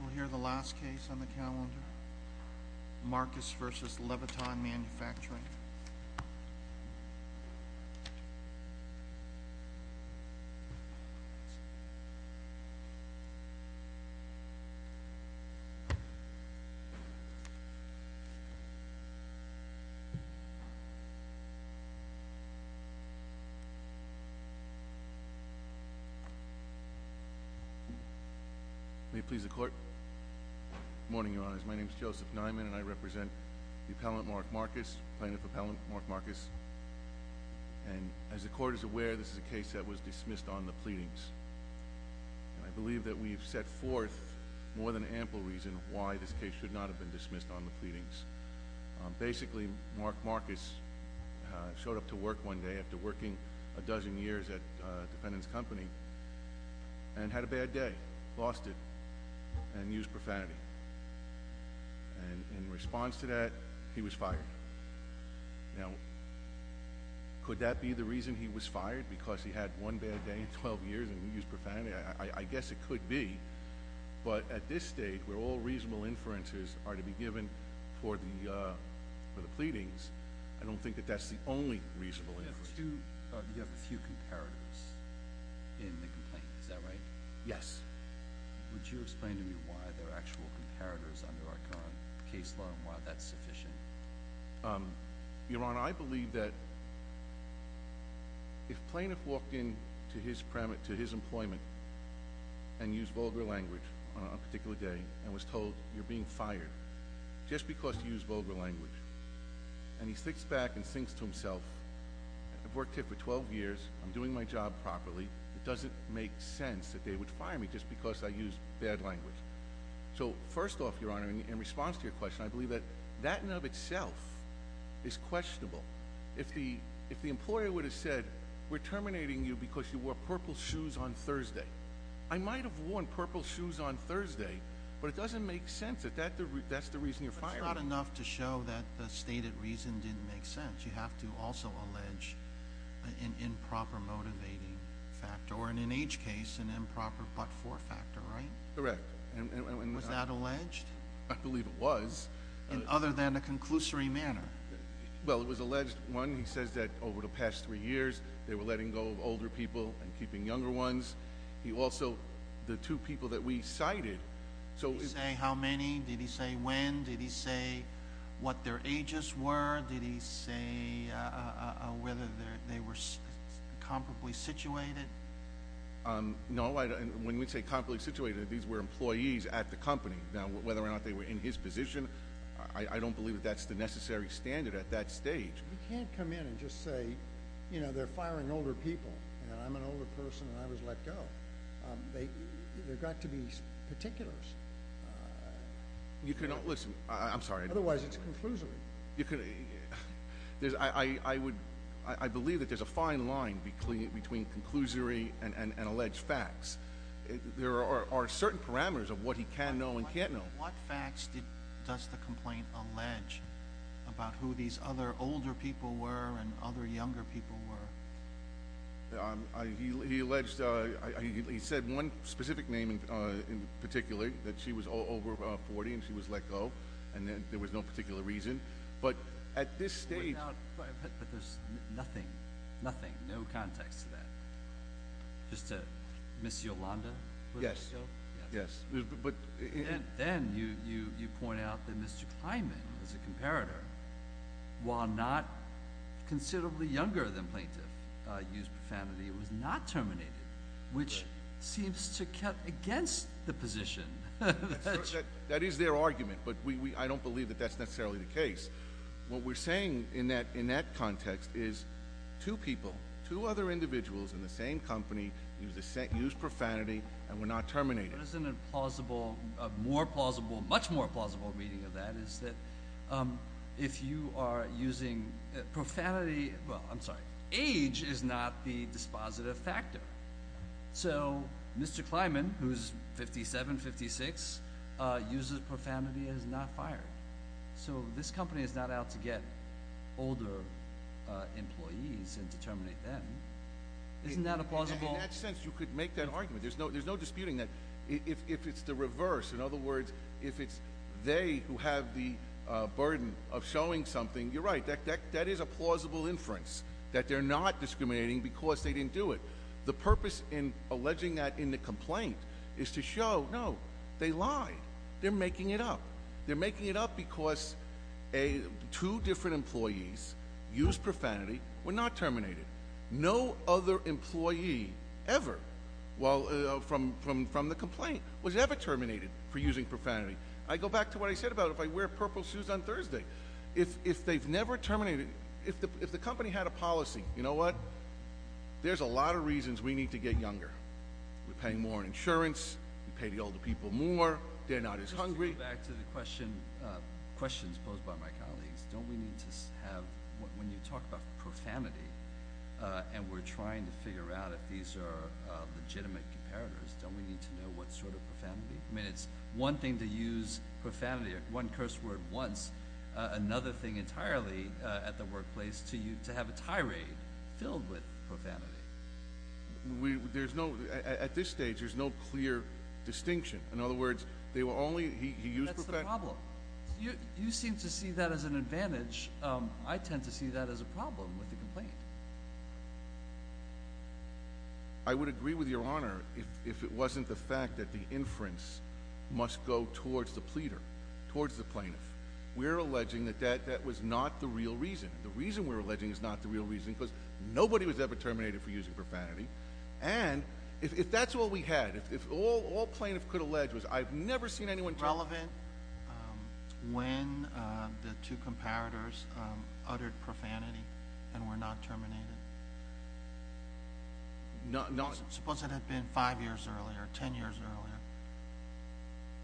We'll hear the last case on the calendar, Marcus v. Leviton Manufacturin. Please, the court. Good morning, Your Honors. My name is Joseph Nyman, and I represent the Appellant, Mark Marcus, Plaintiff Appellant, Mark Marcus. And as the court is aware, this is a case that was dismissed on the pleadings. And I believe that we've set forth more than ample reason why this case should not have been dismissed on the pleadings. Basically, Mark Marcus showed up to work one day after working a dozen years at a defendant's home and used profanity. And in response to that, he was fired. Now, could that be the reason he was fired? Because he had one bad day in 12 years and used profanity? I guess it could be. But at this stage, where all reasonable inferences are to be given for the pleadings, I don't think that that's the only reasonable inference. You have a few comparatives in the complaint. Is that right? Yes. Would you explain to me why there are actual comparatives under our current case law and why that's sufficient? Your Honor, I believe that if a plaintiff walked into his employment and used vulgar language on a particular day and was told, you're being fired just because you used vulgar language, and he sticks back and thinks to himself, I've worked here for 12 years. I'm doing my job properly. It doesn't make sense that they would fire me just because I used bad language. So first off, Your Honor, in response to your question, I believe that that in and of itself is questionable. If the employer would have said, we're terminating you because you wore purple shoes on Thursday, I might have worn purple shoes on Thursday, but it doesn't make sense that that's the reason you're fired. But it's not enough to show that the stated reason didn't make sense. You have to also allege an improper motivating factor, or in each case, an improper but-for factor, right? Correct. Was that alleged? I believe it was. Other than a conclusory manner? Well, it was alleged, one, he says that over the past three years, they were letting go of older people and keeping younger ones. Also, the two people that we cited. Did he say how many? Did he say when? Did he say what their ages were? Did he say whether they were comparably situated? No. When we say comparably situated, these were employees at the company. Now, whether or not they were in his position, I don't believe that that's the necessary standard at that stage. You can't come in and just say, you know, they're firing older people, and I'm an older person, and I was let go. They've got to be particulars. You cannot, listen, I'm sorry. Otherwise, it's conclusory. I believe that there's a fine line between conclusory and alleged facts. There are certain parameters of what he can know and can't know. What facts does the complaint allege about who these other older people were and other younger people were? He alleged, he said one specific name in particular, that she was over 40 and she was let go, and there was no particular reason. But at this stage— But there's nothing, nothing, no context to that. Just to Ms. Yolanda was let go? Yes. Yes. But— And then you point out that Mr. Kliman, as a comparator, while not considerably younger than plaintiff, used profanity, was not terminated, which seems to cut against the position. That is their argument, but I don't believe that that's necessarily the case. What we're saying in that context is two people, two other individuals in the same company used profanity and were not terminated. Isn't it plausible, more plausible, much more plausible reading of that is that if you are using profanity—well, I'm sorry. Age is not the dispositive factor. So Mr. Kliman, who's 57, 56, uses profanity and is not fired. So this company is not out to get older employees and terminate them. Isn't that a plausible— In that sense, you could make that argument. There's no disputing that. If it's the reverse, in other words, if it's they who have the burden of showing something, you're right. That is a plausible inference that they're not discriminating because they didn't do it. The purpose in alleging that in the complaint is to show, no, they lied. They're making it up. They're making it up because two different employees used profanity, were not terminated. No other employee ever, from the complaint, was ever terminated for using profanity. I go back to what I said about if I wear purple shoes on Thursday. If they've never terminated—if the company had a policy, you know what? There's a lot of reasons we need to get younger. We pay more in insurance. We pay the older people more. They're not as hungry. Just to go back to the questions posed by my colleagues, don't we need to have— when you talk about profanity and we're trying to figure out if these are legitimate comparators, don't we need to know what sort of profanity? I mean it's one thing to use profanity, one curse word once, another thing entirely at the workplace to have a tirade filled with profanity. There's no—at this stage, there's no clear distinction. In other words, they were only—he used profanity. That's the problem. You seem to see that as an advantage. I tend to see that as a problem with the complaint. I would agree with Your Honor if it wasn't the fact that the inference must go towards the pleader, towards the plaintiff. We're alleging that that was not the real reason. The reason we're alleging is not the real reason because nobody was ever terminated for using profanity. And if that's all we had, if all plaintiffs could allege was I've never seen anyone— Was it relevant when the two comparators uttered profanity and were not terminated? No. Suppose it had been five years earlier, ten years earlier.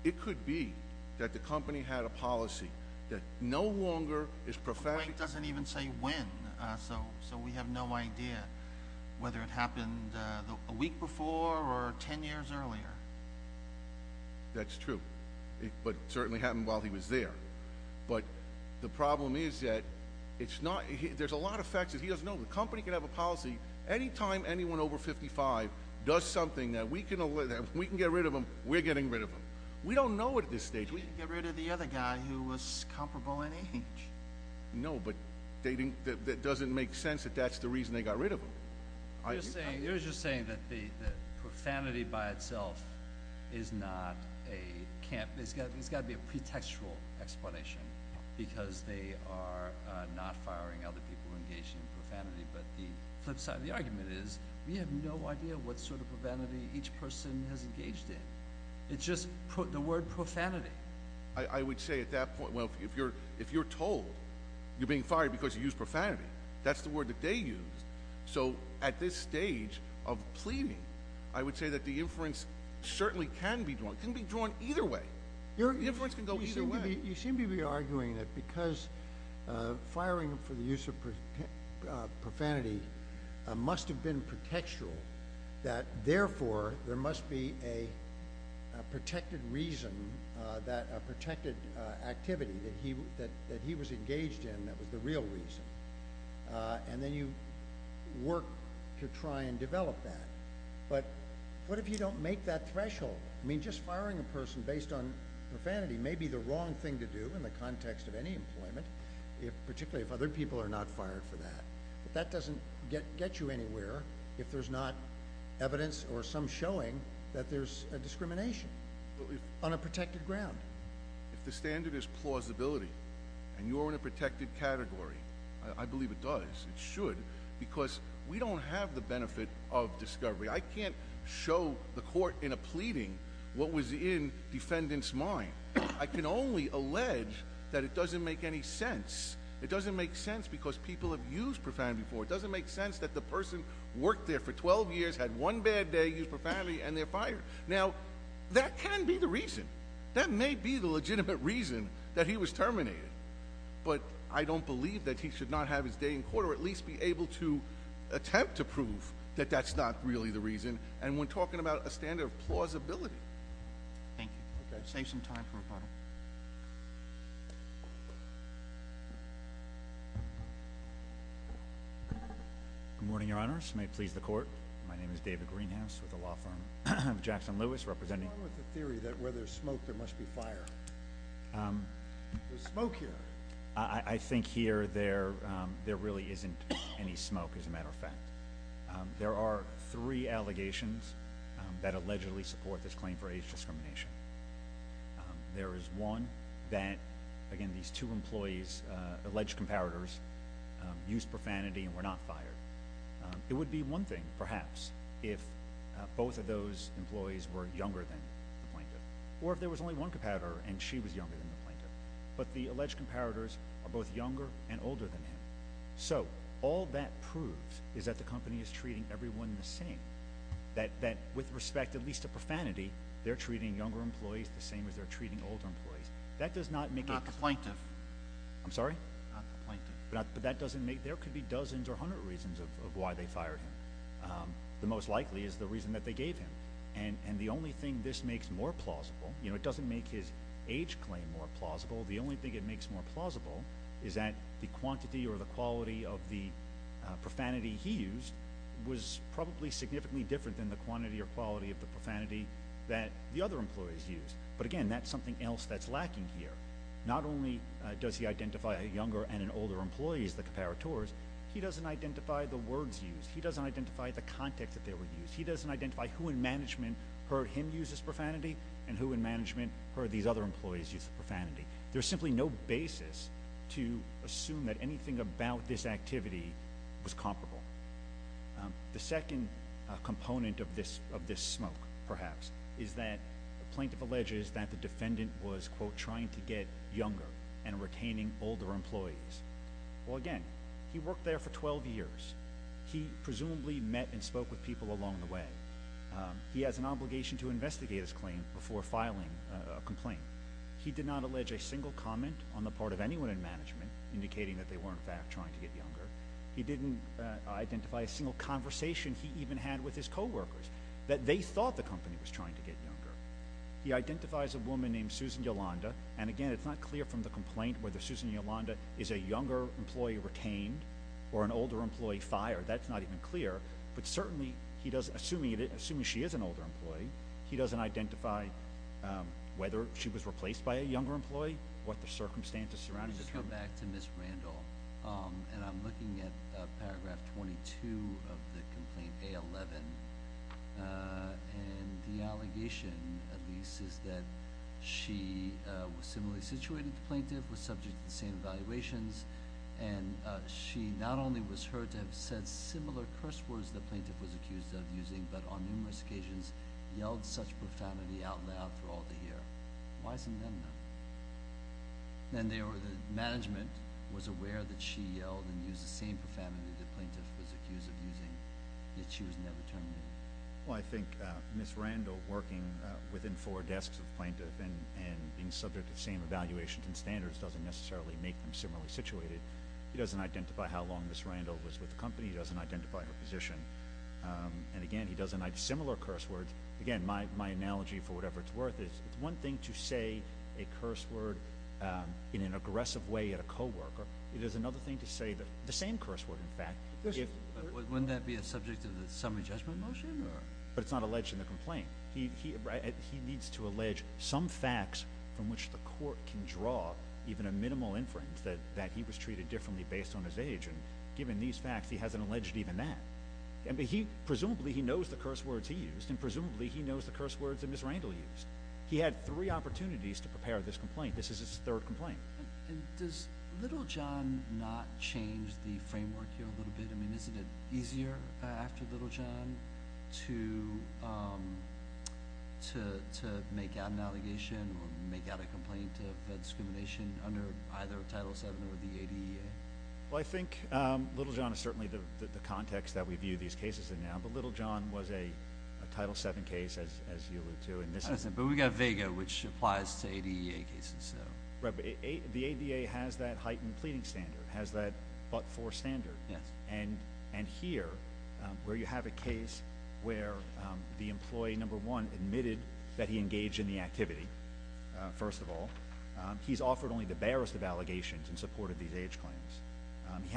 It could be that the company had a policy that no longer is profanity— It doesn't even say when, so we have no idea whether it happened a week before or ten years earlier. That's true, but it certainly happened while he was there. But the problem is that it's not—there's a lot of facts that he doesn't know. The company can have a policy anytime anyone over 55 does something that we can get rid of them, we're getting rid of them. We don't know it at this stage. We can get rid of the other guy who was comparable in age. No, but that doesn't make sense that that's the reason they got rid of him. You're just saying that profanity by itself is not a—there's got to be a pretextual explanation because they are not firing other people engaged in profanity. But the flip side of the argument is we have no idea what sort of profanity each person has engaged in. It's just the word profanity. I would say at that point, well, if you're told you're being fired because you used profanity, that's the word that they used. So at this stage of pleading, I would say that the inference certainly can be drawn. It can be drawn either way. The inference can go either way. You seem to be arguing that because firing for the use of profanity must have been pretextual, that therefore there must be a protected reason, a protected activity that he was engaged in that was the real reason. And then you work to try and develop that. But what if you don't make that threshold? I mean, just firing a person based on profanity may be the wrong thing to do in the context of any employment, particularly if other people are not fired for that. But that doesn't get you anywhere if there's not evidence or some showing that there's a discrimination on a protected ground. If the standard is plausibility and you're in a protected category, I believe it does, it should. Because we don't have the benefit of discovery. I can't show the court in a pleading what was in defendant's mind. I can only allege that it doesn't make any sense. It doesn't make sense because people have used profanity before. It doesn't make sense that the person worked there for 12 years, had one bad day, used profanity, and they're fired. Now, that can be the reason. That may be the legitimate reason that he was terminated. But I don't believe that he should not have his day in court or at least be able to attempt to prove that that's not really the reason. And we're talking about a standard of plausibility. Thank you. We'll save some time for rebuttal. Good morning, Your Honors. May it please the Court. My name is David Greenhouse with the law firm of Jackson Lewis, representing- I'm with the theory that where there's smoke, there must be fire. There's smoke here. I think here there really isn't any smoke, as a matter of fact. There are three allegations that allegedly support this claim for age discrimination. There is one that, again, these two employees, alleged comparators, used profanity and were not fired. It would be one thing, perhaps, if both of those employees were younger than the plaintiff. Or if there was only one comparator and she was younger than the plaintiff. But the alleged comparators are both younger and older than him. So, all that proves is that the company is treating everyone the same. That with respect at least to profanity, they're treating younger employees the same as they're treating older employees. That does not make it- Not the plaintiff. I'm sorry? Not the plaintiff. But that doesn't make- There could be dozens or hundreds of reasons of why they fired him. The most likely is the reason that they gave him. And the only thing this makes more plausible- You know, it doesn't make his age claim more plausible. The only thing it makes more plausible is that the quantity or the quality of the profanity he used was probably significantly different than the quantity or quality of the profanity that the other employees used. But, again, that's something else that's lacking here. Not only does he identify a younger and an older employee as the comparators, he doesn't identify the words used. He doesn't identify the context that they were used. He doesn't identify who in management heard him use this profanity and who in management heard these other employees use the profanity. There's simply no basis to assume that anything about this activity was comparable. The second component of this smoke, perhaps, is that the plaintiff alleges that the defendant was, quote, trying to get younger and retaining older employees. Well, again, he worked there for 12 years. He presumably met and spoke with people along the way. He has an obligation to investigate his claim before filing a complaint. He did not allege a single comment on the part of anyone in management indicating that they were, in fact, trying to get younger. He didn't identify a single conversation he even had with his coworkers that they thought the company was trying to get younger. He identifies a woman named Susan Yolanda. And, again, it's not clear from the complaint whether Susan Yolanda is a younger employee retained or an older employee fired. That's not even clear. But certainly, assuming she is an older employee, he doesn't identify whether she was replaced by a younger employee, what the circumstances surrounding this are. Let me go back to Ms. Randall, and I'm looking at Paragraph 22 of the complaint, A11. And the allegation, at least, is that she was similarly situated to the plaintiff, was subject to the same evaluations, and she not only was heard to have said similar curse words the plaintiff was accused of using, but on numerous occasions yelled such profanity out loud for all to hear. Why isn't that enough? And the management was aware that she yelled and used the same profanity the plaintiff was accused of using, yet she was never terminated. Well, I think Ms. Randall working within four desks of the plaintiff and being subject to the same evaluations and standards doesn't necessarily make them similarly situated. He doesn't identify how long Ms. Randall was with the company. He doesn't identify her position. And, again, he doesn't have similar curse words. Again, my analogy, for whatever it's worth, is it's one thing to say a curse word in an aggressive way at a coworker. It is another thing to say the same curse word, in fact. Wouldn't that be a subject of the summary judgment motion? But it's not alleged in the complaint. He needs to allege some facts from which the court can draw even a minimal inference that he was treated differently based on his age, and given these facts, he hasn't alleged even that. Presumably he knows the curse words he used, and presumably he knows the curse words that Ms. Randall used. He had three opportunities to prepare this complaint. This is his third complaint. Does Little John not change the framework here a little bit? I mean, isn't it easier after Little John to make out an allegation or make out a complaint of discrimination under either Title VII or the ADEA? Well, I think Little John is certainly the context that we view these cases in now, but Little John was a Title VII case, as you alluded to. But we've got Vega, which applies to ADEA cases. Right, but the ADEA has that heightened pleading standard, has that but-for standard. Yes. And here, where you have a case where the employee, number one, admitted that he engaged in the activity, first of all, he's offered only the barest of allegations and supported these age claims. He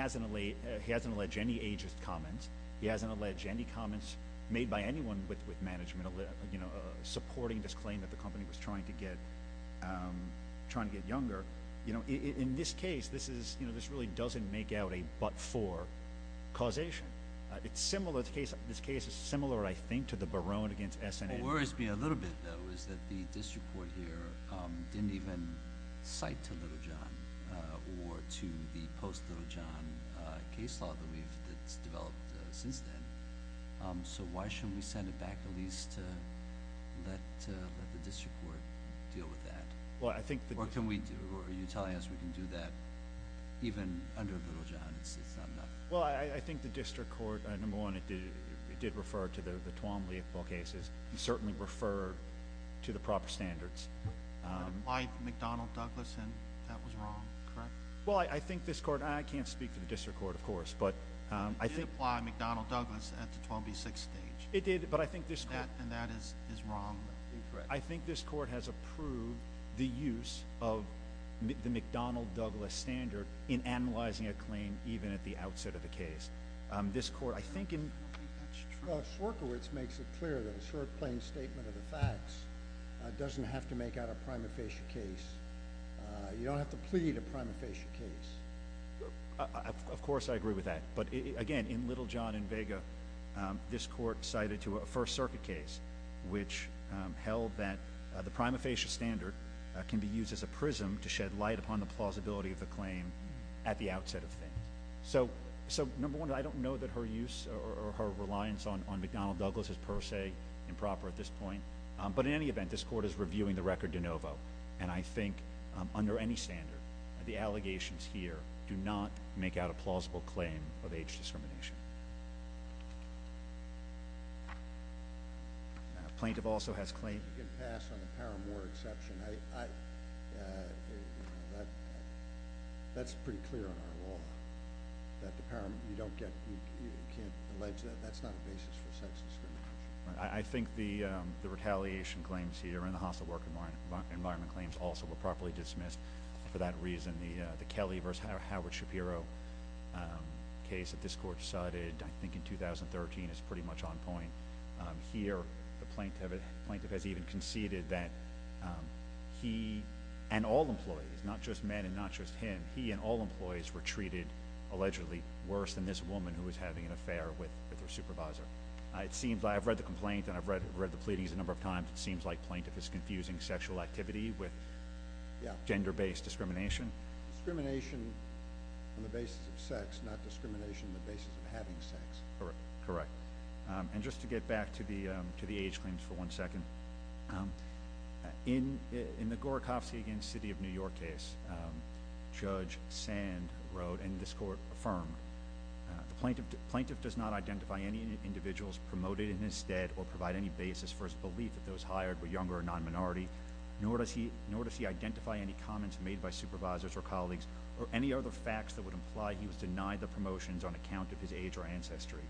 hasn't alleged any ageist comments. He hasn't alleged any comments made by anyone with management, supporting this claim that the company was trying to get younger. In this case, this really doesn't make out a but-for causation. This case is similar, I think, to the Barone against S&H. What worries me a little bit, though, is that the district court here didn't even cite to Little John or to the post-Little John case law that's developed since then. So why shouldn't we send it back at least to let the district court deal with that? Or are you telling us we can do that even under Little John? It's not enough. Well, I think the district court, number one, it did refer to the Twombly cases. It certainly referred to the proper standards. Why McDonnell Douglasson? That was wrong, correct? Well, I think this court-I can't speak for the district court, of course, but I think- It did apply McDonnell Douglas at the 12B6 stage. It did, but I think this court- And that is wrong. Incorrect. I think this court has approved the use of the McDonnell Douglas standard in analyzing a claim even at the outset of the case. This court-I think in- I don't think that's true. Well, Sorkowitz makes it clear that a short, plain statement of the facts doesn't have to make out a prima facie case. You don't have to plead a prima facie case. Of course I agree with that, but, again, in Little John and Vega, this court cited to a First Circuit case which held that the prima facie standard can be used as a prism to shed light upon the plausibility of the claim at the outset of things. So, number one, I don't know that her use or her reliance on McDonnell Douglas is per se improper at this point, but in any event, this court is reviewing the record de novo, and I think under any standard the allegations here do not make out a plausible claim of age discrimination. Plaintiff also has claim- You can pass on the paramour exception. I-that's pretty clear in our law that the paramour-you don't get-you can't allege that. That's not a basis for sex discrimination. I think the retaliation claims here and the hostile work environment claims also were properly dismissed for that reason. In the Kelly v. Howard Shapiro case that this court cited, I think in 2013, is pretty much on point. Here the plaintiff has even conceded that he and all employees, not just men and not just him, he and all employees were treated, allegedly, worse than this woman who was having an affair with her supervisor. I've read the complaint and I've read the pleadings a number of times. It seems like plaintiff is confusing sexual activity with gender-based discrimination. Discrimination on the basis of sex, not discrimination on the basis of having sex. Correct. And just to get back to the age claims for one second, in the Gorachowski v. City of New York case, Judge Sand wrote, and this court affirmed, the plaintiff does not identify any individuals promoted in his stead or provide any basis for his belief that those hired were younger or non-minority, nor does he identify any comments made by supervisors or colleagues or any other facts that would imply he was denied the promotions on account of his age or ancestry.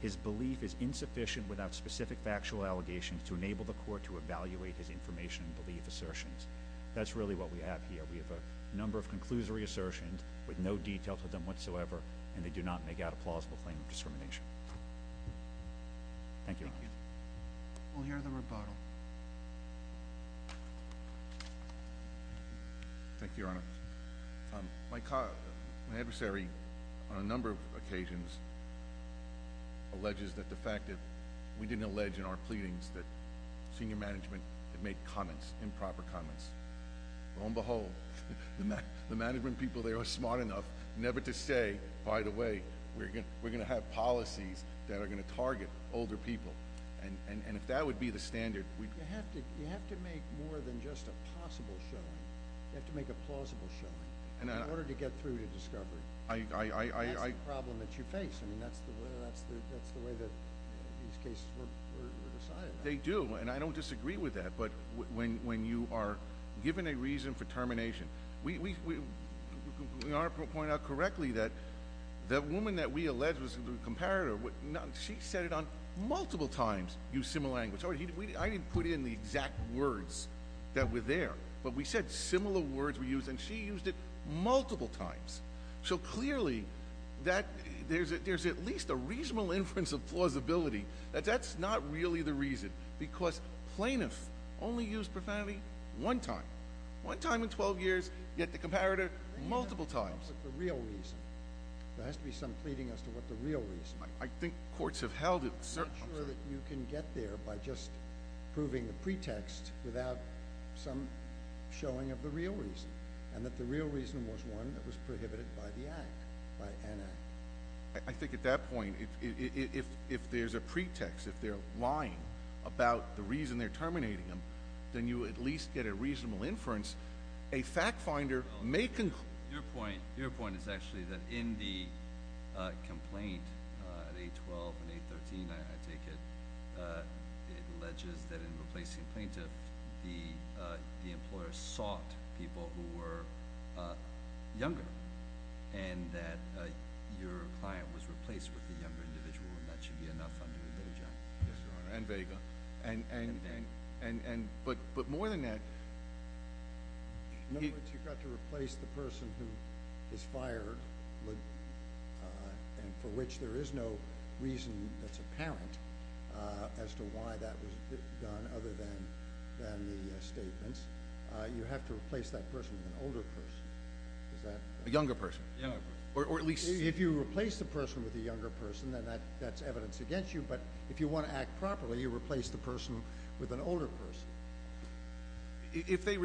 His belief is insufficient without specific factual allegations to enable the court to evaluate his information and belief assertions. That's really what we have here. We have a number of conclusory assertions with no details of them whatsoever, and they do not make out a plausible claim of discrimination. Thank you, Your Honor. We'll hear the rebuttal. Thank you, Your Honor. My adversary on a number of occasions alleges that the fact that we didn't allege in our pleadings that senior management had made comments, improper comments. Lo and behold, the management people there are smart enough never to say, by the way, we're going to have policies that are going to target older people. And if that would be the standard, we'd— You have to make more than just a possible showing. You have to make a plausible showing in order to get through to discovery. That's the problem that you face. I mean, that's the way that these cases were decided. They do, and I don't disagree with that. But when you are given a reason for termination, Your Honor pointed out correctly that the woman that we alleged was the comparator, she said it on multiple times, used similar language. I didn't put in the exact words that were there, but we said similar words were used, and she used it multiple times. So clearly, there's at least a reasonable inference of plausibility. That's not really the reason, because plaintiffs only use profanity one time. One time in 12 years, you get the comparator multiple times. There has to be some pleading as to what the real reason is. I think courts have held it— I'm not sure that you can get there by just proving the pretext without some showing of the real reason, and that the real reason was one that was prohibited by the Act, by an Act. I think at that point, if there's a pretext, if they're lying about the reason they're terminating him, then you at least get a reasonable inference. A fact finder may conclude— Your point is actually that in the complaint at 812 and 813, I take it, it alleges that in replacing plaintiffs, the employer sought people who were younger, and that your client was replaced with a younger individual, and that should be enough under a better judgment. Yes, Your Honor, and there you go. But more than that— In other words, you've got to replace the person who is fired and for which there is no reason that's apparent as to why that was done other than the statements. You have to replace that person with an older person. Is that— A younger person. A younger person. If you replace the person with a younger person, then that's evidence against you, but if you want to act properly, you replace the person with an older person. If they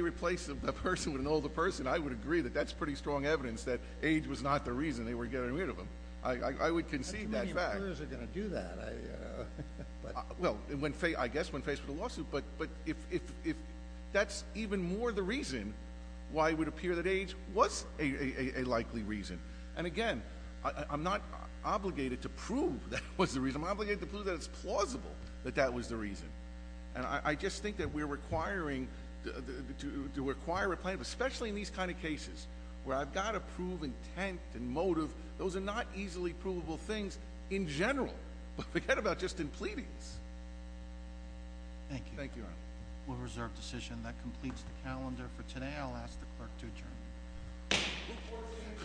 replace the person with an older person, I would agree that that's pretty strong evidence that age was not the reason they were getting rid of him. I would concede that fact. How many lawyers are going to do that? Well, I guess when faced with a lawsuit, but if that's even more the reason why it would appear that age was a likely reason. And again, I'm not obligated to prove that was the reason. I'm obligated to prove that it's plausible that that was the reason. And I just think that we're requiring to acquire a plaintiff, especially in these kind of cases where I've got to prove intent and motive. Those are not easily provable things in general, but forget about just in pleadings. Thank you. Thank you, Your Honor. We'll reserve decision. That completes the calendar for today. I'll ask the clerk to adjourn. Court is adjourned.